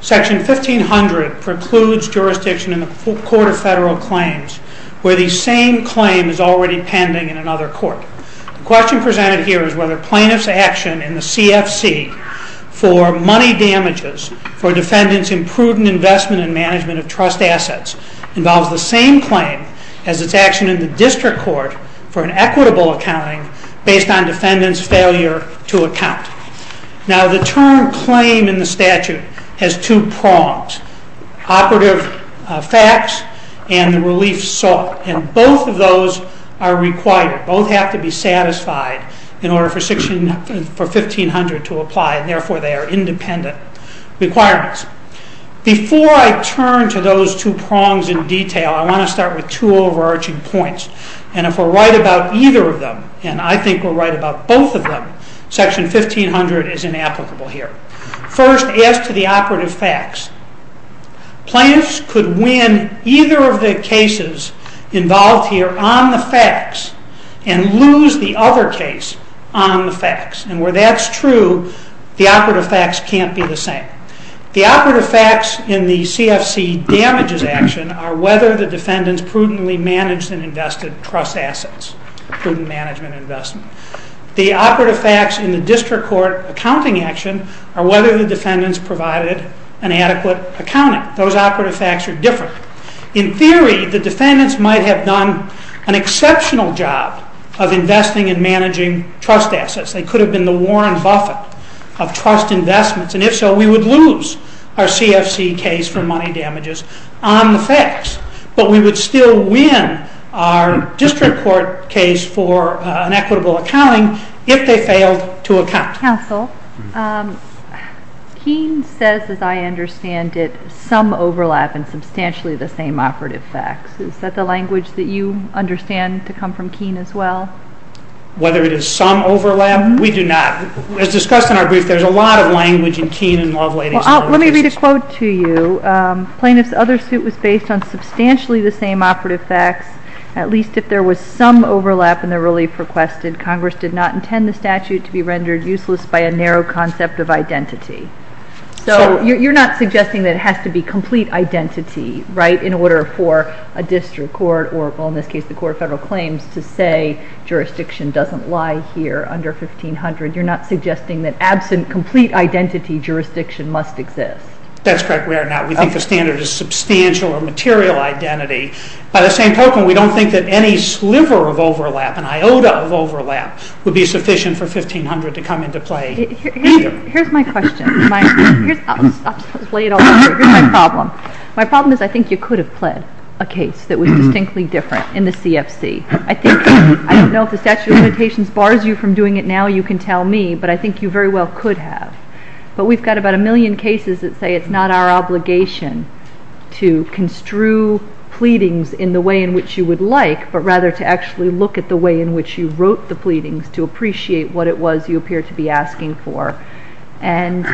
Section 1500 precludes jurisdiction in the Court of Federal Claims, where the same claim is already pending in another court. The question presented here is whether plaintiff's action in the CFC for money damages for defendants in prudent investment and management of trust assets involves the same claim as its action in the district court for an equitable accounting based on defendant's failure to account. Now the term claim in the statute has two prongs, operative facts and the relief sought, and both of those are required, both have to be satisfied in order for Section 1500 to apply, and therefore they are independent requirements. Before I turn to those two prongs in detail, I want to start with two overarching points, and if we're right about either of them, and I think we're right about both of them, Section 1500 is inapplicable here. First, as to the operative facts, plaintiffs could win either of the cases involved here on the facts and lose the other case on the facts, and where that's true, the operative facts can't be the same. The operative facts in the CFC damages action are whether the defendants prudently managed and invested trust assets, prudent management and investment. The operative facts in the district court accounting action are whether the defendants provided an adequate accounting. Those operative facts are different. In theory, the defendants might have done an exceptional job of investing and managing trust assets. They could have been the Warren Buffet of trust investments, and if so, we would lose our CFC case for money damages on the facts, but we would still win our district court case for an equitable accounting if they failed to account. Counsel, Keene says, as I understand it, some overlap and substantially the same operative facts. Is that the language that you understand to come from Keene as well? Whether it is some overlap, we do not. As discussed in our brief, there's a lot of language in Keene and Lovelady's. Well, let me read a quote to you. Plaintiff's other suit was based on substantially the same operative facts, at least if there was some overlap in the relief requested. Congress did not intend the statute to be rendered useless by a narrow concept of identity. So you're not suggesting that it has to be complete identity, right, in order for a district court or, well, in this case, the court of federal claims to say jurisdiction doesn't lie here under 1500. You're not suggesting that absent complete identity, jurisdiction must exist. That's correct. We are not. We think the standard is substantial or material identity. By the way, it would be sufficient for 1500 to come into play. Here's my question. I'll just lay it all out here. Here's my problem. My problem is I think you could have pled a case that was distinctly different in the CFC. I think, I don't know if the statute of limitations bars you from doing it now, you can tell me, but I think you very well could have. But we've got about a million cases that say it's not our obligation to construe pleadings in the way in which you would like, but rather to actually look at the way in which you wrote the pleadings to appreciate what it was you appear to be asking for. And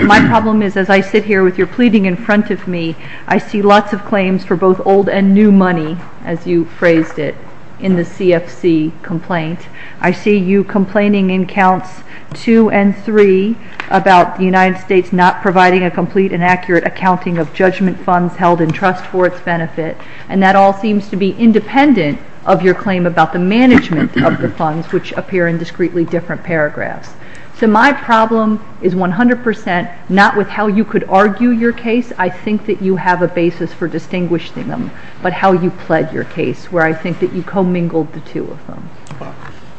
my problem is as I sit here with your pleading in front of me, I see lots of claims for both old and new money, as you phrased it, in the CFC complaint. I see you complaining in counts two and three about the United States not providing a complete and accurate accounting of judgment funds held in trust for its benefit, and that all seems to be independent of your claim about the management of the funds, which appear in discreetly different paragraphs. So my problem is 100 percent not with how you could argue your case. I think that you have a basis for distinguishing them, but how you pled your case, where I think that you co-mingled the two of them.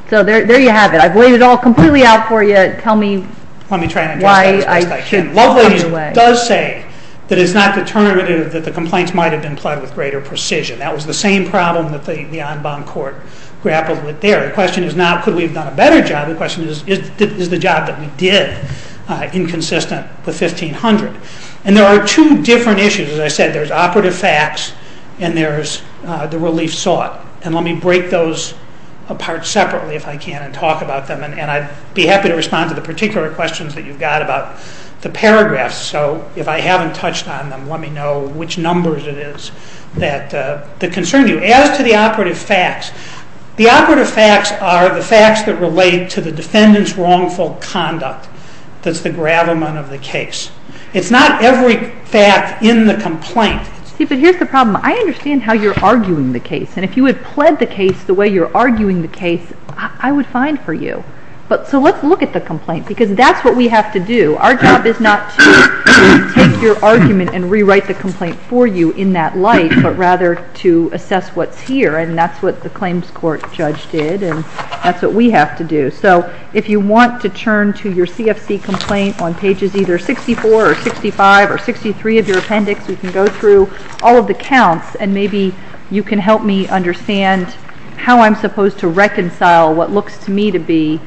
So there you have it. I've laid it all completely out for you. Tell me why I've come your way. Let me try to address that as best I can. Lovelace does say that it's not determinative that the complaints might have been pled with greater precision. That was the same problem that the en banc court grappled with there. The question is not could we have done a better job? The question is, is the job that we did inconsistent with 1500? And there are two different issues. As I said, there's operative facts and there's the relief sought. And let me break those apart separately, if I can, and talk about them. And I'd be happy to respond to the particular questions that you've got about the paragraphs. So if I haven't touched on them, let me know which numbers it is that concern you. As to the operative facts, the operative facts are the facts that relate to the defendant's wrongful conduct that's the gravamen of the case. It's not every fact in the complaint. See, but here's the problem. I understand how you're arguing the case. And if you had pled the case the way you're arguing the case, I would find for you. So let's look at the document and rewrite the complaint for you in that light, but rather to assess what's here. And that's what the claims court judge did. And that's what we have to do. So if you want to turn to your CFC complaint on pages either 64 or 65 or 63 of your appendix, we can go through all of the counts. And maybe you can help me understand how I'm supposed to reconcile what looks to me to be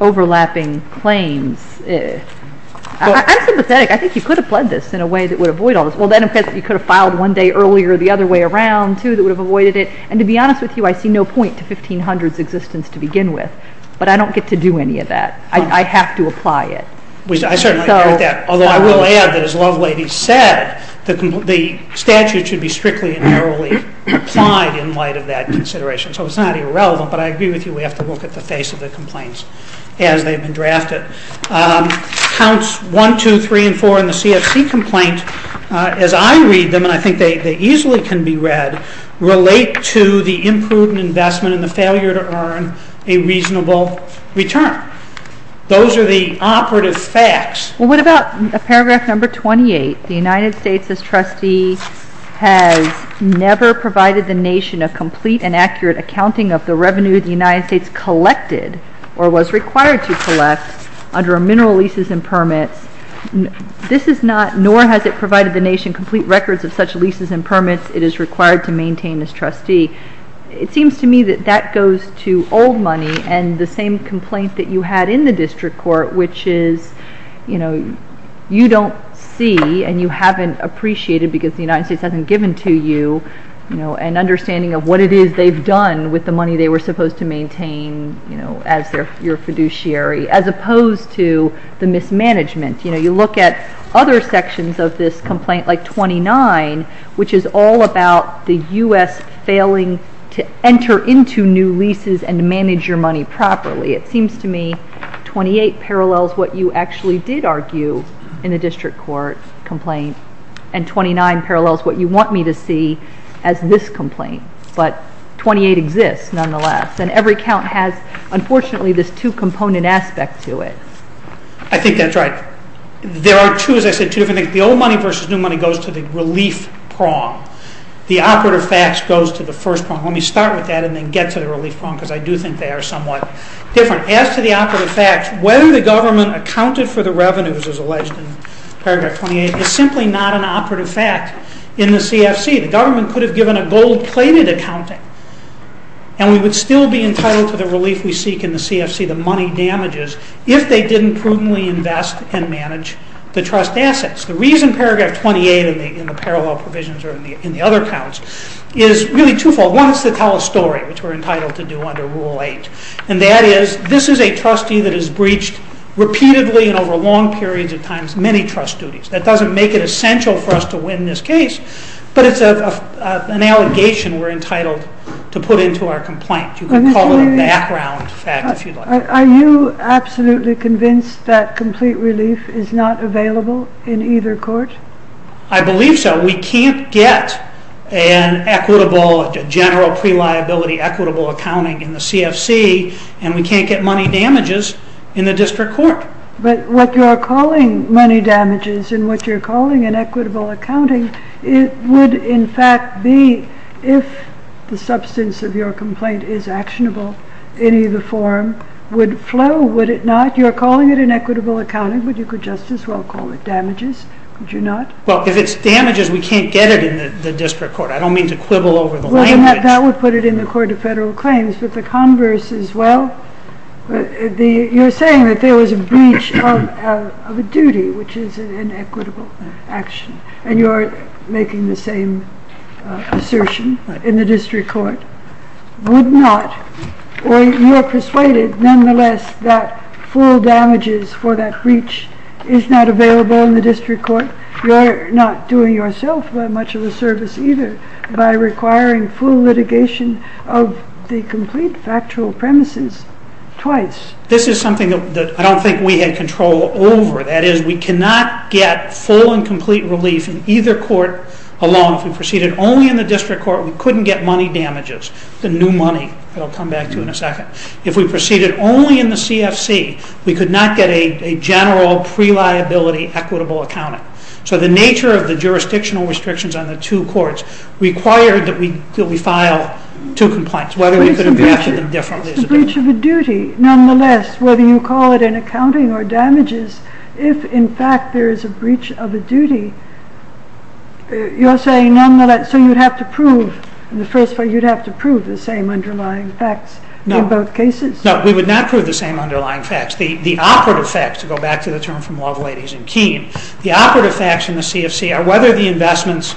overlapping claims. I'm sympathetic. I think you could have pled this in a way that would avoid all this. Well, then you could have filed one day earlier the other way around, too, that would have avoided it. And to be honest with you, I see no point to 1500's existence to begin with, but I don't get to do any of that. I have to apply it. I certainly agree with that, although I will add that as Lovelady said, the statute should be strictly and narrowly applied in light of that consideration. So it's not irrelevant, but I agree with you we have to look at the face of the complaints as they've been drafted. Counts 1, 2, 3, and 4 in the CFC complaint, as I read them, and I think they easily can be read, relate to the imprudent investment and the failure to earn a reasonable return. Those are the operative facts. What about paragraph number 28, the United States as trustee has never provided the nation a complete and accurate accounting of the revenue the United States collected or was required to collect under a mineral leases and permits. This is not, nor has it provided the nation complete records of such leases and permits it is required to maintain as trustee. It seems to me that that goes to old money and the same complaint that you had in the district court, which is, you know, you don't see and you haven't appreciated because the United States hasn't given to you, you know, an understanding of what it is they've done with the money they were supposed to maintain, you know, as your fiduciary as opposed to the mismanagement. You know, you look at other sections of this complaint like 29, which is all about the U.S. failing to enter into new leases and manage your money properly. It seems to me 28 parallels what you actually did argue in the district court complaint and 29 parallels what you want me to see as this complaint, but 28 exists nonetheless and every count has, unfortunately, this two-component aspect to it. I think that's right. There are two, as I said, two different things. The old money versus new money goes to the relief prong. The operative facts goes to the first prong. Let me start with that and then get to the relief prong because I do think they are somewhat different. As to the operative facts, whether the government accounted for the revenues as alleged in paragraph 28, is simply not an operative fact in the CFC. The government could have given a gold-plated accounting and we would still be entitled to the relief we seek in the CFC, the money damages, if they didn't prudently invest and manage the trust assets. The reason paragraph 28 in the parallel provisions or in the other counts is really twofold. One, it's to tell a story, which we're entitled to do under Rule 8, and that is, this is a trustee that has breached repeatedly and over long periods of times many trust duties. That doesn't make it essential for us to win this case, but it's an allegation we're entitled to put into our complaint. You can call it a background fact if you'd like. Are you absolutely convinced that complete relief is not available in either court? I believe so. We can't get a general pre-liability equitable accounting in the CFC, and we can't get money damages in the district court. But what you're calling money damages and what you're calling an equitable accounting, it would in fact be, if the substance of your complaint is actionable, any of the form would flow, would it not? You're calling it an equitable accounting, but you could just as well call it damages, would you not? Well, if it's damages, we can't get it in the district court. I don't mean to quibble over the language. That would put it in the court of federal claims, but the converse is, well, you're saying that there was a breach of a duty, which is an equitable action, and you're making the same assertion in the district court, would not, or you're persuaded nonetheless that full damages for that breach is not available in the district court, you're not doing yourself much of a service either by requiring full litigation of the complete factual premises twice. This is something that I don't think we had control over. That is, we cannot get full and complete relief in either court alone. If we proceeded only in the district court, we couldn't get money damages, the new money that I'll come back to in a second. If we proceeded only in the CFC, we could not get a general pre-liability equitable accounting. So the nature of the jurisdictional restrictions on the two courts required that we file two complaints, whether we could have acted differently. It's a breach of a duty, nonetheless, whether you call it an accounting or damages, if in fact there is a breach of a duty, you're saying nonetheless, so you'd have to prove, in the first place, you'd have to prove the same underlying facts in both cases? No, we would not prove the same underlying facts. The operative facts, to go back to the term from Love, Ladies, and Keen, the operative facts in the CFC are whether the investments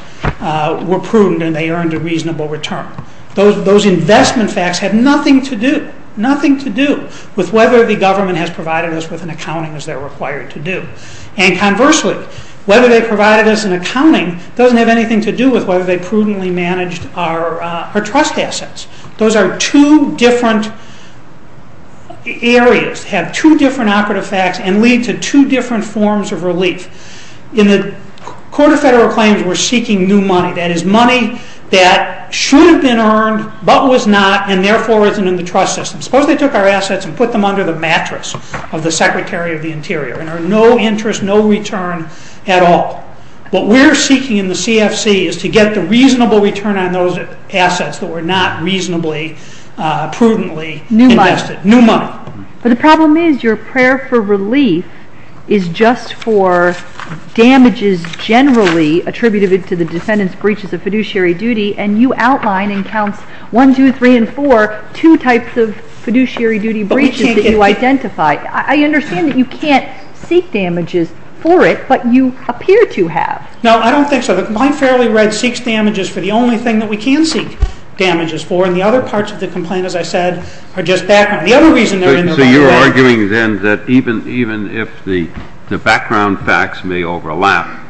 were prudent and they earned a reasonable return. Those investment facts have nothing to do, nothing to do, with whether the government has provided us with an accounting as they're required to do. And conversely, whether they provided us an accounting doesn't have anything to do with whether they prudently managed our trust assets. Those are two different areas, have two different operative facts, and lead to two different forms of relief. In the Court of Federal Claims, we're seeking new money, that is money that should have been earned, but was not, and therefore isn't in the trust system. Suppose they took our assets and put them under the mattress of the Secretary of the Interior, and earned no interest, no return at all. What we're seeking in the CFC is to get the reasonable return on those assets that were not reasonably, prudently invested. New money. New money. But the problem is, your prayer for relief is just for damages generally attributed to the defendant's breaches of fiduciary duty, and you outline in counts 1, 2, 3, and 4, two types of fiduciary duty breaches that you identify. I understand that you can't seek damages for it, but you appear to have. No, I don't think so. The complaint fairly read seeks damages for the only thing that we can seek damages for, and the other parts of the complaint, as I said, are just background. The other reason they're in the background... So you're arguing then that even if the background facts may overlap,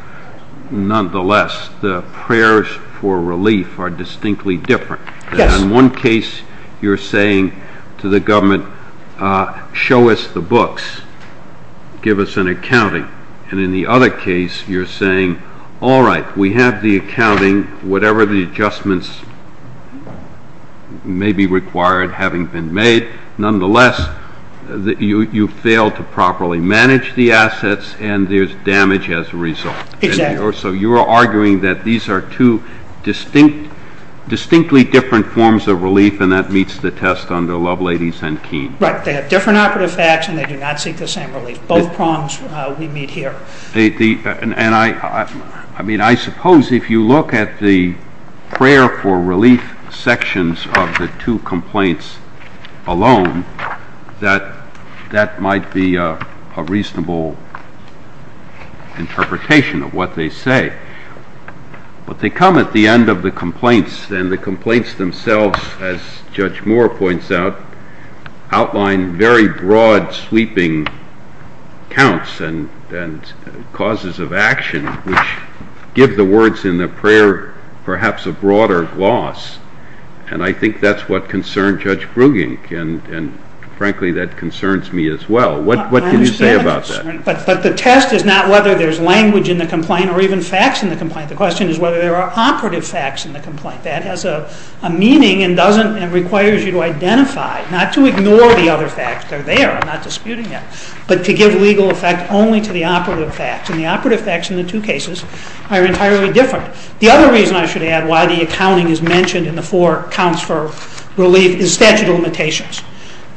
nonetheless, the prayers for relief are distinctly different. Yes. In one case, you're saying to the government, show us the books, give us an accounting. And in the other case, you're saying, all right, we have the accounting, whatever the adjustments may be required having been made, nonetheless, you failed to properly manage the assets, and there's damage as a result. Exactly. So you're arguing that these are two distinctly different forms of relief, and that meets the test under Lovelady's and Keene. Right. They have different operative facts, and they do not seek the same relief. Both prongs we meet here. And I suppose if you look at the prayer for relief sections of the two complaints alone, that might be a reasonable interpretation of what they say. But they come at the end of the complaints, and the complaints themselves, as Judge Moore points out, outline very broad sweeping counts and causes of action, which give the words in the prayer perhaps a broader gloss. And I think that's what concerned Judge Brugink, and frankly, that concerns me as well. What can you say about that? But the test is not whether there's language in the complaint or even facts in the complaint. The question is whether there are operative facts in the complaint. That has a meaning and doesn't, and requires you to identify, not to ignore the other facts. They're there. I'm not disputing it. But to give legal effect only to the operative facts. And the operative facts in the two cases are entirely different. The other reason I should add why the accounting is mentioned in the four counts for relief is statute of limitations.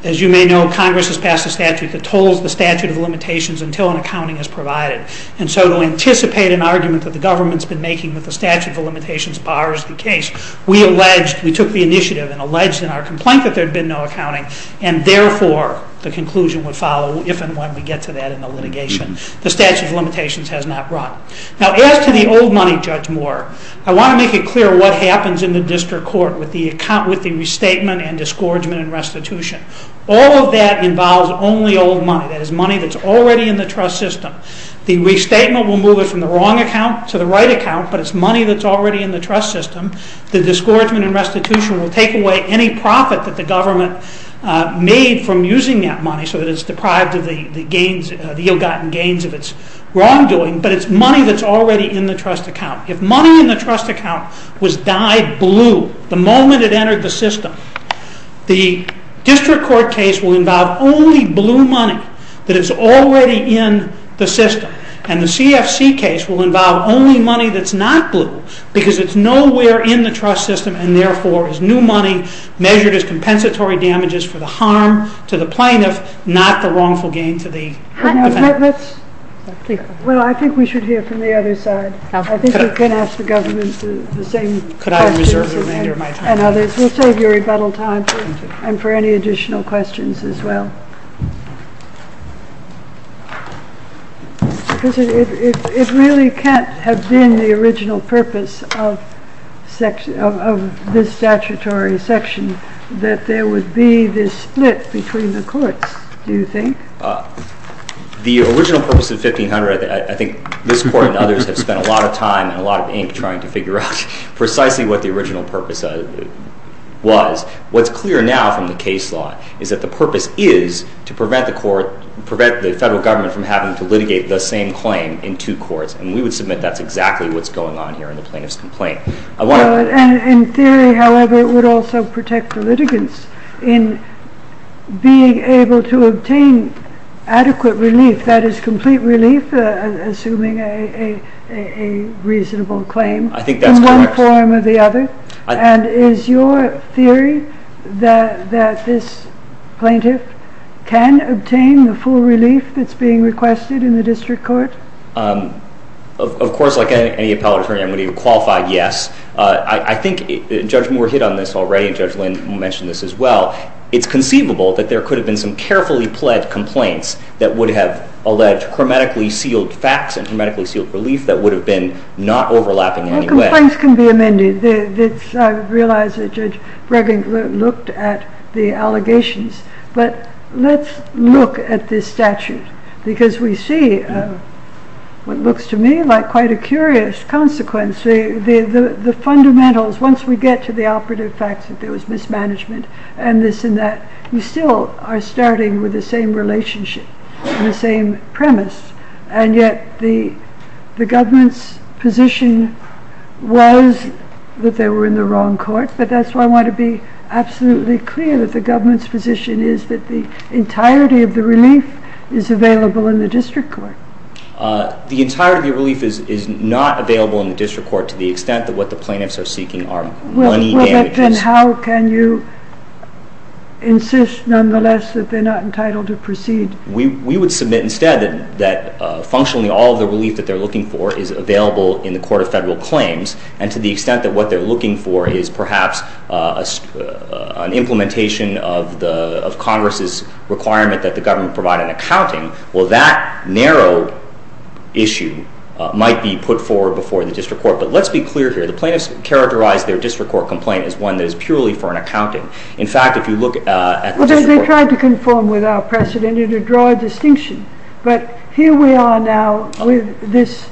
As you may know, Congress has passed a statute that totals the statute of limitations until an accounting is provided. And so to anticipate an argument that the government's been making that the statute of limitations bars the case, we alleged and took the initiative and alleged in our complaint that there'd been no accounting. And therefore, the conclusion would follow if and when we get to that in the litigation. The statute of limitations has not run. Now, as to the old money, Judge Moore, I want to make it clear what happens in the district court with the restatement and disgorgement and restitution. All of that involves only old money. That is money that's already in the trust system. The restatement will move it from the wrong account to the right account, but it's money that's already in the trust system. The disgorgement and restitution will take away any profit that the government made from using that money so that it's deprived of the ill-gotten gains of its wrongdoing, but it's money that's already in the trust account. If money in the trust account was dyed blue the moment it entered the system, the district court case will involve only blue money that is already in the system. And the CFC case will involve only money that's not blue because it's nowhere in the trust system, and therefore, is new money measured as compensatory damages for the harm to the plaintiff, not the wrongful gain to the defendant. Well, I think we should hear from the other side. I think you can ask the government the same questions and others. We'll save your rebuttal time and for any additional questions as well. It really can't have been the original purpose of this statutory section that there would be this split between the courts, do you think? The original purpose of 1500, I think this Court and others have spent a lot of time and a lot of ink trying to figure out precisely what the original purpose was. What's clear now from the case law is that the purpose is to prevent the federal government from having to litigate the same claim in two courts, and we would submit that's exactly what's going on here in the plaintiff's complaint. In theory, however, it would also protect the litigants in being able to obtain adequate relief, that is, complete relief, assuming a reasonable claim, in one form or the other. And is your theory that this plaintiff can obtain the full relief that's being requested in the district court? Of course, like any appellate attorney, I'm going to give a qualified yes. I think Judge Moore hit on this already, and Judge Lynn mentioned this as well. It's conceivable that there could have been some carefully pled complaints that would have alleged chromatically sealed facts and chromatically sealed relief that would have been not overlapping anyway. Complaints can be amended. I realize that Judge Bregging looked at the allegations, but let's look at this statute because we see what looks to me like quite a curious consequence. The fundamentals, once we get to the operative facts that there was mismanagement and this and that, we still are starting with the same relationship and the same premise, and yet the government's position was that they were in the wrong court, but that's why I want to be absolutely clear that the government's position is that the entirety of the relief is available in the district court. The entirety of the relief is not available in the district court to the extent that what the plaintiffs are seeking are money damages. Well, but then how can you insist, nonetheless, that they're not entitled to proceed? We would submit instead that functionally all of the relief that they're looking for is available in the Court of Federal Claims, and to the extent that what they're looking for is perhaps an implementation of Congress's requirement that the government provide an accounting, well, that narrow issue might be put forward before the district court. But let's be clear here. The plaintiffs characterized their district court complaint as one that is purely for an accounting. In fact, if you look at the district court... I don't want to draw a distinction, but here we are now with this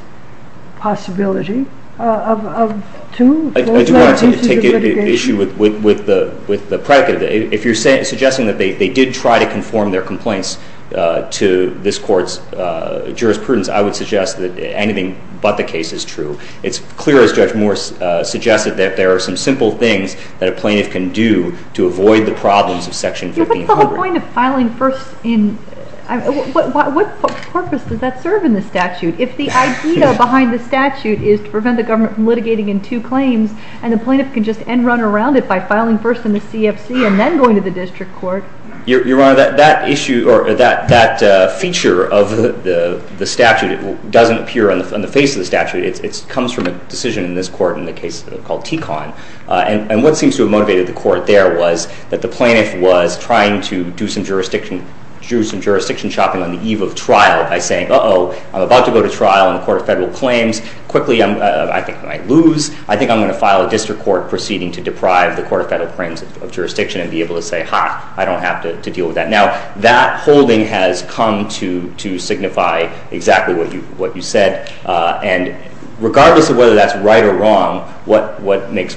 possibility of two. I do want to take issue with the predicate. If you're suggesting that they did try to conform their complaints to this court's jurisprudence, I would suggest that anything but the case is true. It's clear, as Judge Moore suggested, that there are some simple things that a plaintiff can do to avoid the problems of Section 15 of Congress. But what purpose does that serve in the statute? If the idea behind the statute is to prevent the government from litigating in two claims, and the plaintiff can just end-run around it by filing first in the CFC and then going to the district court? Your Honor, that feature of the statute doesn't appear on the face of the statute. It comes from a decision in this court in the case called TECON. And what seems to have motivated the court there was that the plaintiff was trying to do some jurisdiction shopping on the eve of trial by saying, uh-oh, I'm about to go to trial in the Court of Federal Claims. Quickly I think I might lose. I think I'm going to file a district court proceeding to deprive the Court of Federal Claims of jurisdiction and be able to say, ha, I don't have to deal with that. Now, that holding has come to signify exactly what you said. And regardless of whether that's right or wrong, what it makes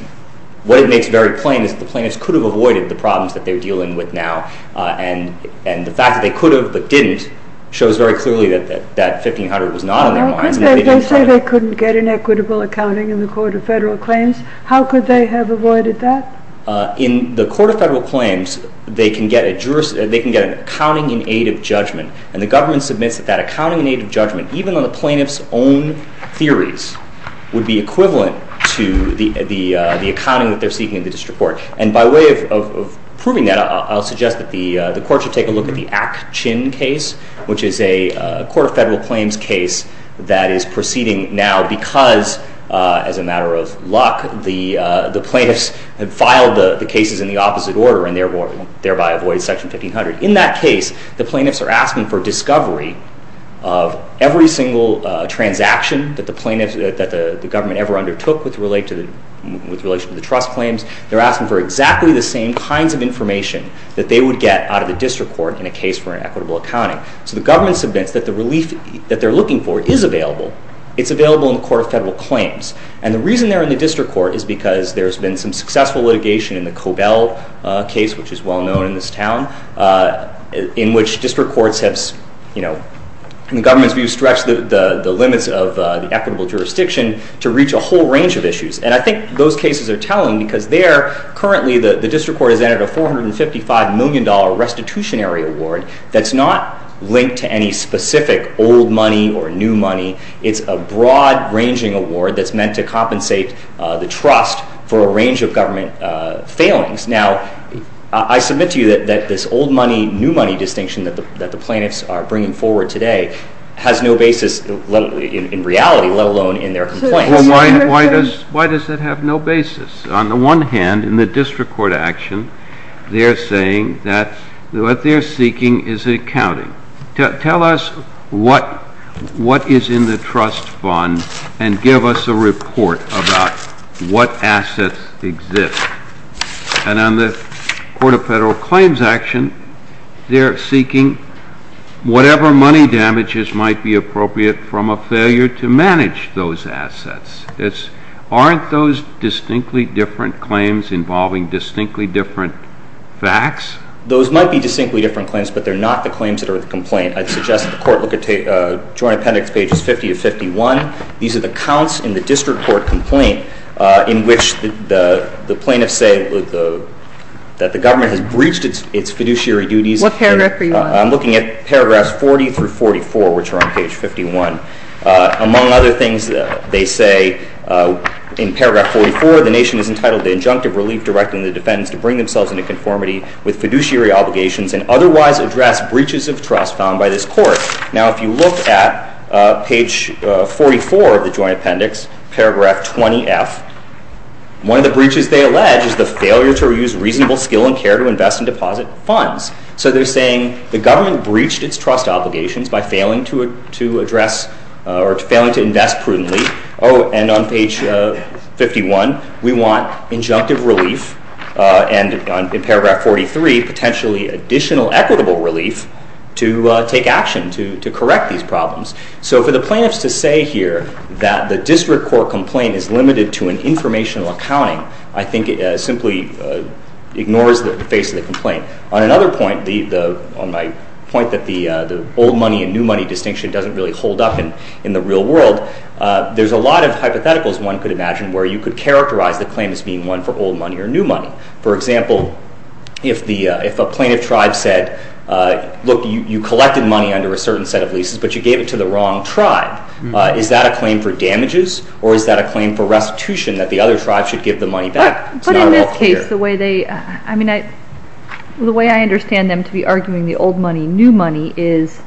very plain is the plaintiffs could have avoided the problems that they're dealing with now. And the fact that they could have but didn't shows very clearly that that 1500 was not on their minds and that they didn't file it. They say they couldn't get an equitable accounting in the Court of Federal Claims. How could they have avoided that? In the Court of Federal Claims, they can get an accounting in aid of judgment. And the plaintiffs' own theories would be equivalent to the accounting that they're seeking in the district court. And by way of proving that, I'll suggest that the Court should take a look at the Ack-Chin case, which is a Court of Federal Claims case that is proceeding now because, as a matter of luck, the plaintiffs have filed the cases in the opposite order and thereby avoid Section 1500. In that case, the plaintiffs are asking for discovery of every single transaction that the government ever undertook with relation to the trust claims. They're asking for exactly the same kinds of information that they would get out of the district court in a case for an equitable accounting. So the government submits that the relief that they're looking for is available. It's available in the Court of Federal Claims. And the reason they're in the district court is because there's been some successful litigation in the Cobell case, which is well-known in this town, in which district courts have, in the government's view, stretched the limits of the equitable jurisdiction to reach a whole range of issues. And I think those cases are telling because there, currently, the district court has entered a $455 million restitutionary award that's not linked to any specific old money or new money. It's a broad-ranging award that's meant to compensate the trust for a range of government failings. Now, I submit to you that this old money, new money distinction that the plaintiffs are bringing forward today has no basis in reality, let alone in their complaints. Well, why does it have no basis? On the one hand, in the district court action, they're saying that what they're seeking is accounting. Tell us what is in the trust fund and give us a report about what assets exist. And on the Court of Federal Claims action, they're seeking whatever money damages might be appropriate from a failure to manage those assets. Aren't those distinctly different claims involving distinctly different facts? Those might be distinctly different claims, but they're not the claims that are in the complaint. I'd suggest that the court look at Joint Appendix pages 50 to 51. These are the accounts in the district court complaint in which the plaintiffs say that the government has breached its fiduciary duties. What paragraph are you on? I'm looking at paragraphs 40 through 44, which are on page 51. Among other things, they say in paragraph 44, the nation is entitled to injunctive relief directing the defendants to bring themselves into conformity with fiduciary obligations and otherwise address breaches of trust found by this court. Now, if you look at page 44 of the Joint Appendix, paragraph 20F, one of the breaches they allege is the failure to use reasonable skill and care to invest in deposit funds. So they're saying the government breached its trust obligations by failing to address or failing to invest prudently. Oh, and on page 51, we want injunctive relief, and in paragraph 43, potentially additional equitable relief to take action to correct these problems. So for the plaintiffs to say here that the district court complaint is limited to an informational accounting, I think it simply ignores the face of the complaint. On another point, on my point that the old money and new money distinction doesn't really hold up in the real world, there's a lot of hypotheticals one could imagine where you could characterize the claim as being one for old money or new money. For example, if a plaintiff tribe said, look, you collected money under a certain set of leases, but you gave it to the wrong tribe, is that a claim for damages, or is that a claim for restitution that the other tribe should give the money back? But in this case, the way they, I mean, the way I understand them to be arguing the old money and new money is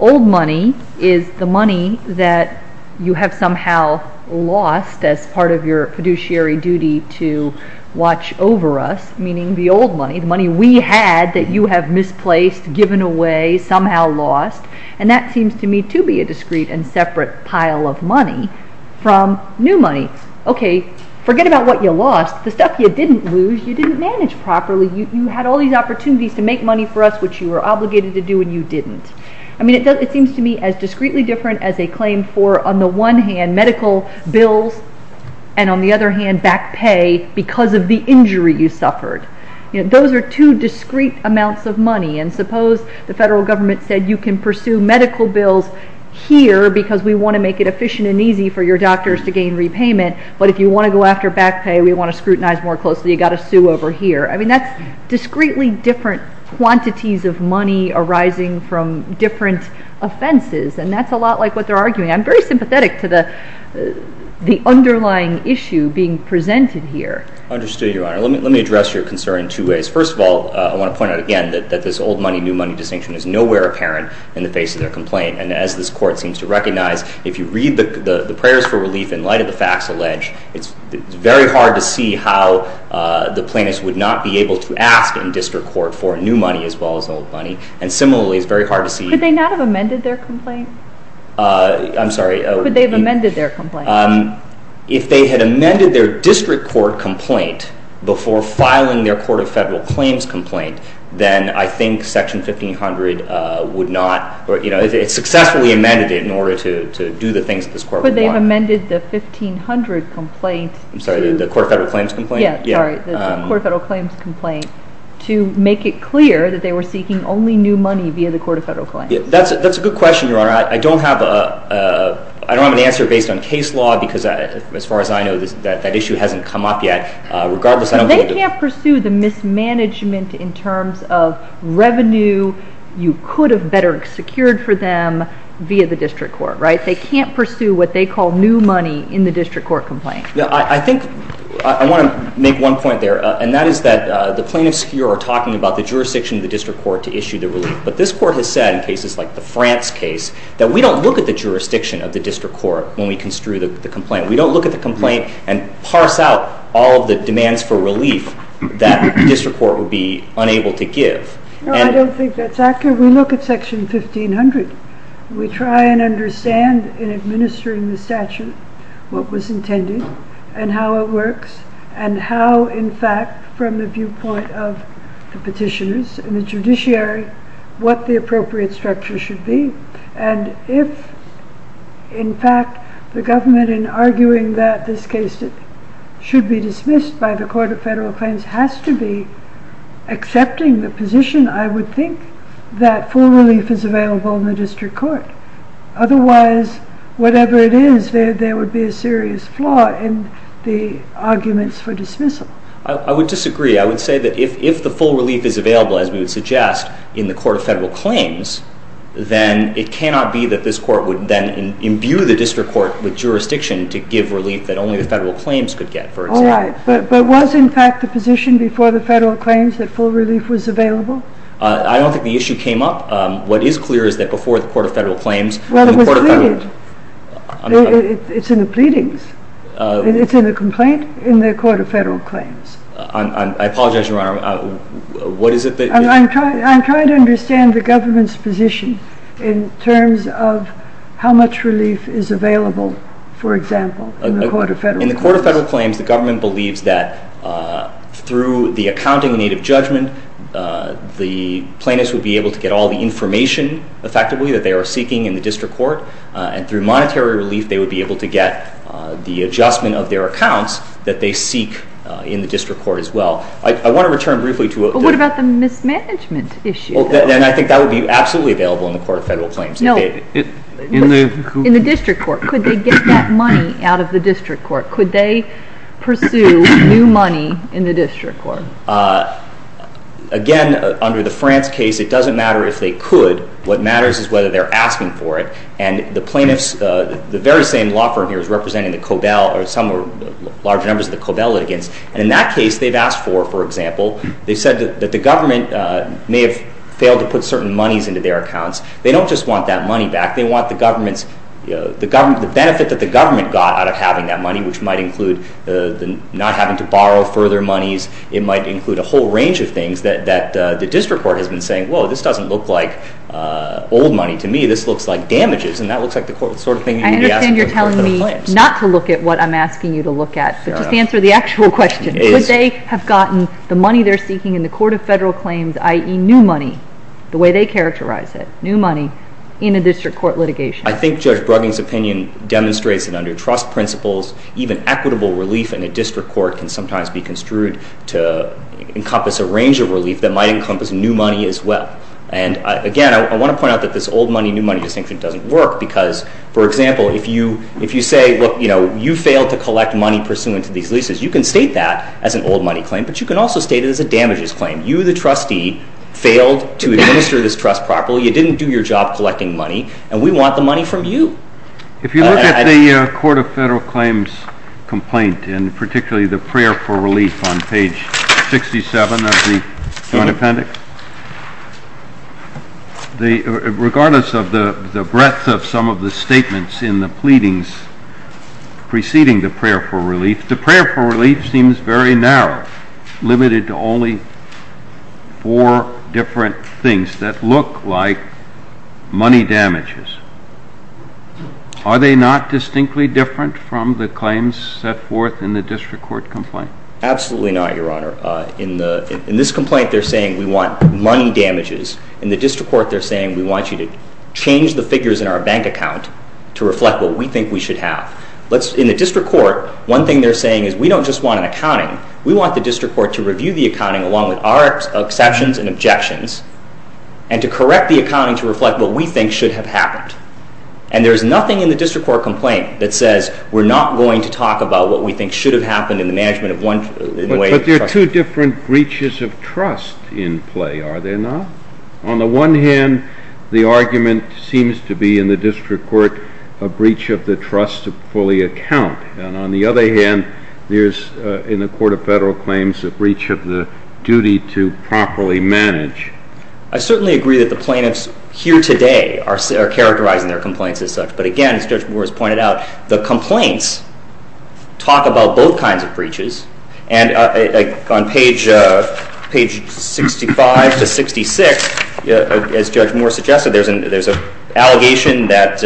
old money is the money that you have somehow lost as part of your fiduciary duty to watch over us, meaning the old money, the money we had that you have misplaced, given away, somehow lost, and that seems to me to be a discrete and separate pile of money from new money. Okay, forget about what you lost. The stuff you didn't lose, you didn't manage properly. You had all these opportunities to make money for us which you were obligated to do and you didn't. I mean, it seems to me as discreetly different as a claim for, on the one hand, medical bills, and on the other hand, back pay because of the injury you suffered. You know, those are two discrete amounts of money, and suppose the federal government said you can pursue medical bills here because we want to make it efficient and easy for your doctors to gain repayment, but if you want to go after back pay, we want to scrutinize more closely. You've got to sue over here. I mean, that's discreetly different quantities of money arising from different offenses, and that's a lot like what they're arguing. I'm very sympathetic to the underlying issue being presented here. I understood, Your Honor. Let me address your concern in two ways. First of all, I want to point out again that this old money, new money distinction is nowhere apparent in the face of their complaint, and as this court seems to recognize, if you read the prayers for relief in light of the facts alleged, it's very hard to see how the plaintiffs would not be able to ask in district court for new money as well as old money, and similarly, it's very hard to see... Could they not have amended their complaint? I'm sorry. Could they have amended their complaint? If they had amended their district court complaint before filing their Court of Federal Claims complaint, then I think Section 1500 would not... It successfully amended it in order to do the things that this court would want. But they've amended the 1500 complaint to... I'm sorry, the Court of Federal Claims complaint? Yeah, sorry, the Court of Federal Claims complaint to make it clear that they were seeking only new money via the Court of Federal Claims. That's a good question, Your Honor. I don't have an answer based on case law because as far as I know, that issue hasn't come up yet. Regardless, I don't think... They can't pursue the mismanagement in terms of revenue you could have better secured for them via the district court, right? They can't pursue what they call new money in the district court complaint. Yeah, I think... I want to make one point there, and that is that the plaintiffs here are talking about the jurisdiction of the district court to issue the relief, but this is like the France case, that we don't look at the jurisdiction of the district court when we construe the complaint. We don't look at the complaint and parse out all the demands for relief that the district court would be unable to give. No, I don't think that's accurate. We look at Section 1500. We try and understand in administering the statute what was intended and how it works and how, in fact, from the appropriate structure should be. And if, in fact, the government in arguing that this case should be dismissed by the Court of Federal Claims has to be accepting the position, I would think that full relief is available in the district court. Otherwise, whatever it is, there would be a serious flaw in the arguments for dismissal. I would disagree. I would say that if the full relief is available, as we would suggest, in the Court of Federal Claims, then it cannot be that this court would then imbue the district court with jurisdiction to give relief that only the Federal Claims could get, for example. All right. But was, in fact, the position before the Federal Claims that full relief was available? I don't think the issue came up. What is clear is that before the Court of Federal Claims, the Court of Federal Claims – Well, it was pleaded. It's in the pleadings. It's in the complaint in the Court of Federal I apologize, Your Honor. What is it that – I'm trying to understand the government's position in terms of how much relief is available, for example, in the Court of Federal Claims. In the Court of Federal Claims, the government believes that through the accounting in need of judgment, the plaintiffs would be able to get all the information, effectively, that they are seeking in the district court. And through monetary relief, they would be able to get the adjustment of their accounts that they seek in the district court as well. I want to return briefly to – Well, what about the mismanagement issue? Well, then I think that would be absolutely available in the Court of Federal Claims. No. In the – In the district court. Could they get that money out of the district court? Could they pursue new money in the district court? Again, under the France case, it doesn't matter if they could. What matters is whether they're asking for it. And the plaintiffs – the very same law firm here is representing the COBEL or some large numbers of the COBEL litigants. And in that case, they've asked for, for example, they said that the government may have failed to put certain monies into their accounts. They don't just want that money back. They want the government's – the government – the benefit that the government got out of having that money, which might include the – not having to borrow further monies. It might include a whole range of things that the district court has been saying, whoa, this doesn't look like old money to me. This looks like damages. And that looks like the sort of thing you would be asking in the Court of Federal Claims. I understand you're telling me not to look at what I'm asking you to look at. No. But just answer the actual question. Could they have gotten the money they're seeking in the Court of Federal Claims, i.e. new money, the way they characterize it, new money, in a district court litigation? I think Judge Brugging's opinion demonstrates that under trust principles, even equitable relief in a district court can sometimes be construed to encompass a range of relief that might encompass new money as well. And again, I want to point out that this old money, new money distinction doesn't work because, for example, if you say, look, you failed to collect money pursuant to these leases, you can state that as an old money claim, but you can also state it as a damages claim. You, the trustee, failed to administer this trust properly. You didn't do your job collecting money, and we want the money from you. If you look at the Court of Federal Claims complaint, and particularly the prayer for relief on page 67 of the Joint Appendix, regardless of the breadth of some of the statements in the pleadings preceding the prayer for relief, the prayer for relief seems very narrow, limited to only four different things that look like money damages. Are they not distinctly different from the claims set forth in the district court complaint? Absolutely not, Your Honor. In this complaint, they're saying we want money damages. In the district court, they're saying we want you to change the figures in our bank account to reflect what we think we should have. In the district court, one thing they're saying is we don't just want an accounting. We want the district court to review the accounting along with our exceptions and objections, and to correct the accounting to reflect what we think should have happened. And there's nothing in the district court complaint that says we're not going to talk about what we think should have happened in the management of one way or another. But there are two different breaches of trust in play, are there not? On the one hand, the district court, a breach of the trust to fully account. And on the other hand, there's in the Court of Federal Claims a breach of the duty to properly manage. I certainly agree that the plaintiffs here today are characterizing their complaints as such. But again, as Judge Moore has pointed out, the complaints talk about both kinds of breaches. And on page 65 to 66, as Judge Moore suggested, there's an allegation that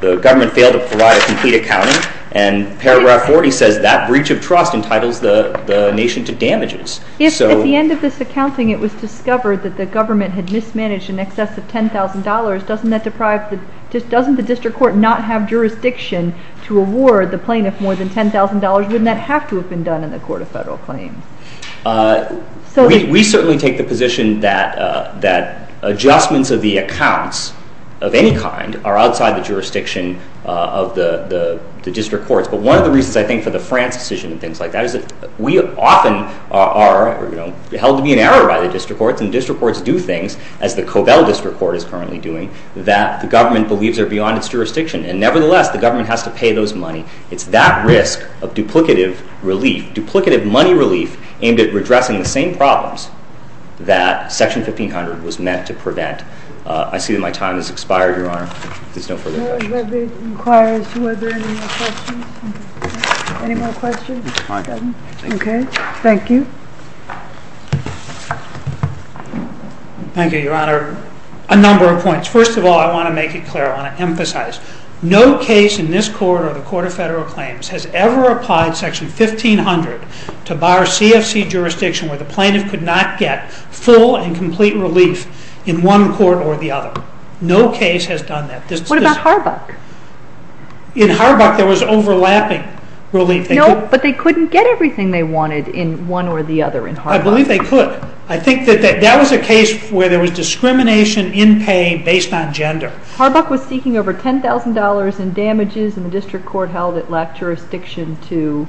the government failed to provide a complete accounting. And paragraph 40 says that breach of trust entitles the nation to damages. If at the end of this accounting it was discovered that the government had mismanaged in excess of $10,000, doesn't that deprive the...doesn't the district court not have jurisdiction to award the plaintiff more than $10,000? Wouldn't that have to have been done in the Court of Federal Claims? We certainly take the position that adjustments of the accounts of any kind are outside the jurisdiction of the district courts. But one of the reasons, I think, for the France decision and things like that is that we often are held to be an error by the district courts. And district courts do things, as the Cobell District Court is currently doing, that the government believes are beyond its jurisdiction. And nevertheless, the government has to pay those money. It's that risk of duplicative relief, duplicative money relief, aimed at redressing the same problems that Section 1500 was meant to prevent. I see that my time has expired, Your Honor. If there's no further questions. I would like to inquire as to whether there are any more questions. Any more questions? Fine. Okay. Thank you. Thank you, Your Honor. A number of points. First of all, I want to make it clear. I want to emphasize. No case in this Court or the Court of Federal Claims has ever applied Section 1500 to bar CFC jurisdiction where the plaintiff could not get full and complete relief in one court or the other. No case has done that. What about Harbuck? In Harbuck, there was overlapping relief. No, but they couldn't get everything they wanted in one or the other in Harbuck. I believe they could. I think that that was a case where there was discrimination in pay based on gender. Harbuck was seeking over $10,000 in damages, and the district court held it lacked jurisdiction to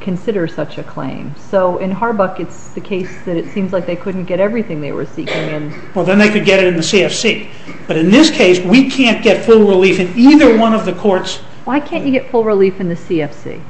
consider such a claim. So in Harbuck, it's the case that it seems like they couldn't get everything they were seeking. Well, then they could get it in the CFC. But in this case, we can't get full relief in either one of the courts. Why can't you get full relief in the CFC?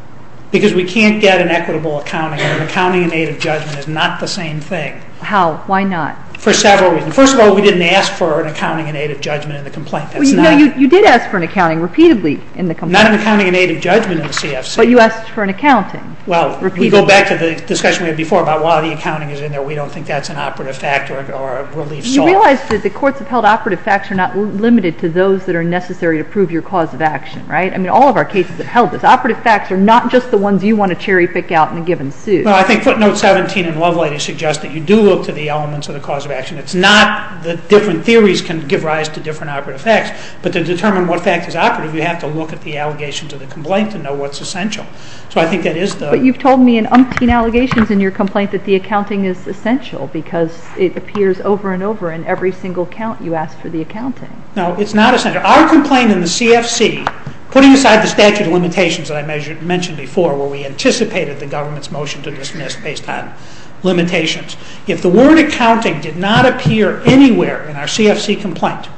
Because we can't get an equitable accounting, and an accounting in aid of judgment is not the same thing. How? Why not? For several reasons. First of all, we didn't ask for an accounting in aid of judgment in the complaint. Well, you did ask for an accounting repeatedly in the complaint. Not an accounting in aid of judgment in the CFC. But you asked for an accounting repeatedly. Well, we go back to the discussion we had before about why the accounting is in there. We don't think that's an operative fact or a relief source. You realize that the courts have held operative facts are not limited to those that are necessary to prove your cause of action, right? I mean, all of our cases have held this. Operative facts are not just the ones you want to cherry pick out in a given suit. Well, I think footnote 17 in Lovelady suggests that you do look to the elements of the cause of action. It's not that different theories can give rise to different operative facts. But to determine what fact is operative, you have to look at the allegations of the complaint to know what's essential. So I think that is the... But you've told me in umpteen allegations in your complaint that the accounting is essential because it appears over and over in every single count you ask for the accounting. No, it's not essential. Our complaint in the CFC, putting aside the statute of limitations that I mentioned before where we anticipated the government's motion to dismiss based on limitations, if the word accounting did not appear anywhere in our CFC complaint,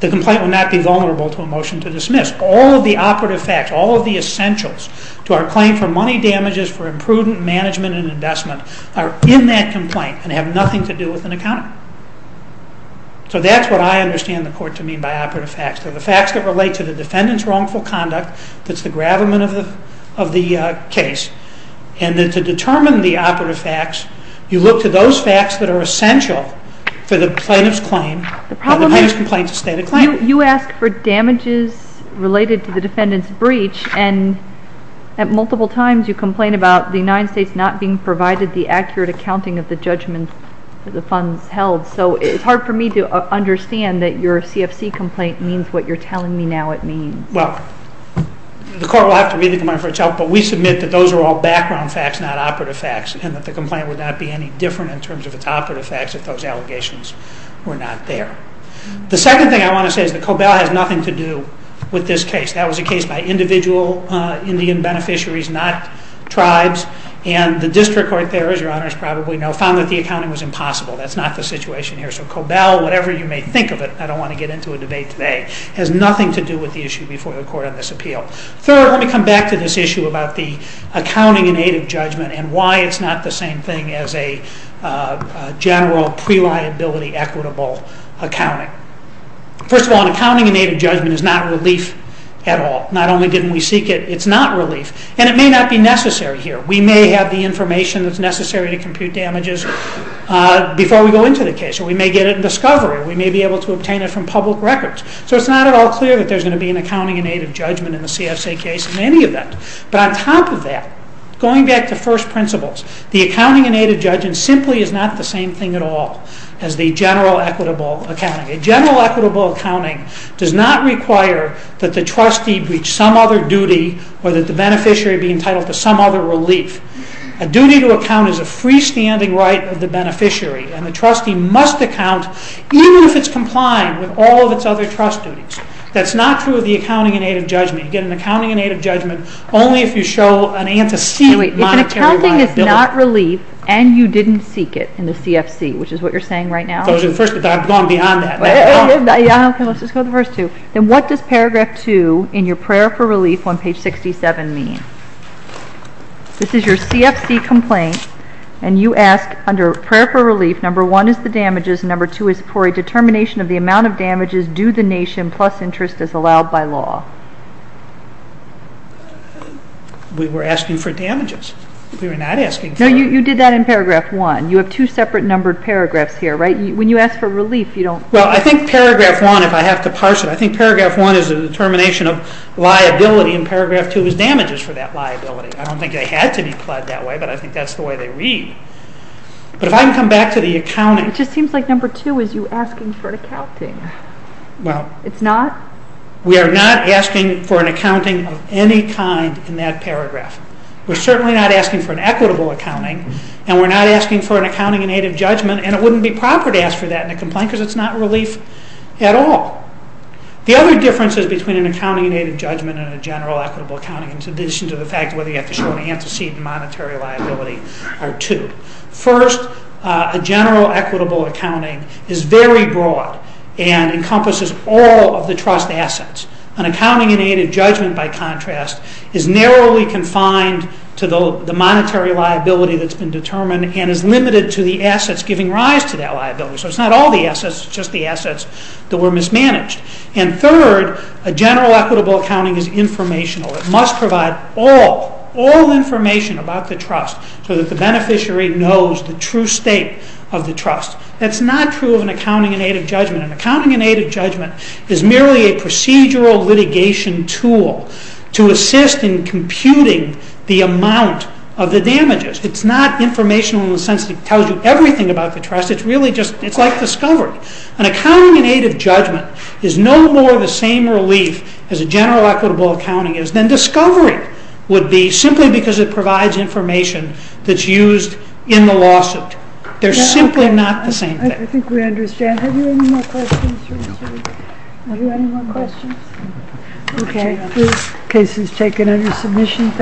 the complaint would not be vulnerable to a motion to dismiss. All of the operative facts, all of the essentials to our claim for money damages for imprudent management and investment are in that complaint and have nothing to do with an accountant. So that's what I understand the court to mean by operative facts. They're the facts that relate to the defendant's wrongful conduct that's the gravamen of the case. And to determine the operative facts, you look to those facts that are essential for the plaintiff's claim, for the plaintiff's complaint to stay the claim. You ask for damages related to the defendant's breach and at multiple times you complain about the United States not being provided the accurate accounting of the judgment that the funds held. So it's hard for me to understand that your CFC complaint means what you're telling me now it means. Well, the court will have to read the complaint for itself, but we submit that those are all background facts, not operative facts, and that the complaint would not be any different in terms of its operative facts if those allegations were not there. The second thing I want to say is that Cobell has nothing to do with this case. That was a case by individual Indian beneficiaries, not tribes. And the district court there, as your honors probably know, found that the accounting was impossible. That's not the situation here. So Cobell, whatever you may think of it, I don't want to get into a debate today, has nothing to do with the issue before the court on this appeal. Third, let me come back to this issue about the accounting in aid of judgment and why it's not the same thing as a general pre-liability equitable accounting. First of all, an accounting in aid of judgment is not relief at all. Not only didn't we seek it, it's not relief. And it may not be necessary here. We may have the information that's necessary to compute damages before we go into the case, or we may get it in discovery, or we may be able to obtain it from public records. So it's not at all clear that there's going to be an accounting in aid of judgment in the CSA case in any event. But on top of that, going back to first principles, the accounting in aid of judgment simply is not the same thing at all as the general equitable accounting. A general equitable accounting does not require that the trustee reach some other duty or that the beneficiary be entitled to some other relief. A duty to account is a freestanding right of the beneficiary, and the trustee must account even if it's complying with all of its other trust duties. That's not true of the accounting in aid of judgment. You get an accounting in aid of judgment only if you show an antecedent monetary liability. If an accounting is not relief and you didn't seek it in the CFC, which is what you're saying right now? I'm going beyond that. Let's just go to the first two. Then what does paragraph two in your prayer for relief on page 67 mean? This is your CFC complaint, and you ask under prayer for relief, do the nation plus interest as allowed by law. We were asking for damages. We were not asking for... No, you did that in paragraph one. You have two separate numbered paragraphs here, right? When you ask for relief, you don't... Well, I think paragraph one, if I have to parse it, I think paragraph one is a determination of liability, and paragraph two is damages for that liability. I don't think they had to be pledged that way, but I think that's the way they read. But if I can come back to the accounting... It just seems like number two is you asking for accounting. Well... It's not? We are not asking for an accounting of any kind in that paragraph. We're certainly not asking for an equitable accounting, and we're not asking for an accounting in aid of judgment, and it wouldn't be proper to ask for that in a complaint because it's not relief at all. The other differences between an accounting in aid of judgment and a general equitable accounting, in addition to the fact whether you have to show an antecedent monetary liability, are two. First, a general equitable accounting is very broad and encompasses all of the trust assets. An accounting in aid of judgment, by contrast, is narrowly confined to the monetary liability that's been determined and is limited to the assets giving rise to that liability. So it's not all the assets, it's just the assets that were mismanaged. And third, a general equitable accounting is informational. It must provide all, all information about the trust so that the beneficiary knows the true state of the trust. That's not true of an accounting in aid of judgment. An accounting in aid of judgment is merely a procedural litigation tool to assist in computing the amount of the damages. It's not informational in the sense that it tells you everything about the trust. It's really just, it's like discovery. An accounting in aid of judgment is no more the same relief as a general equitable accounting is than discovery would be, simply because it provides information that's used in the lawsuit. They're simply not the same thing. I think we understand. Have you any more questions? Have you any more questions? Okay. This case is taken under submission.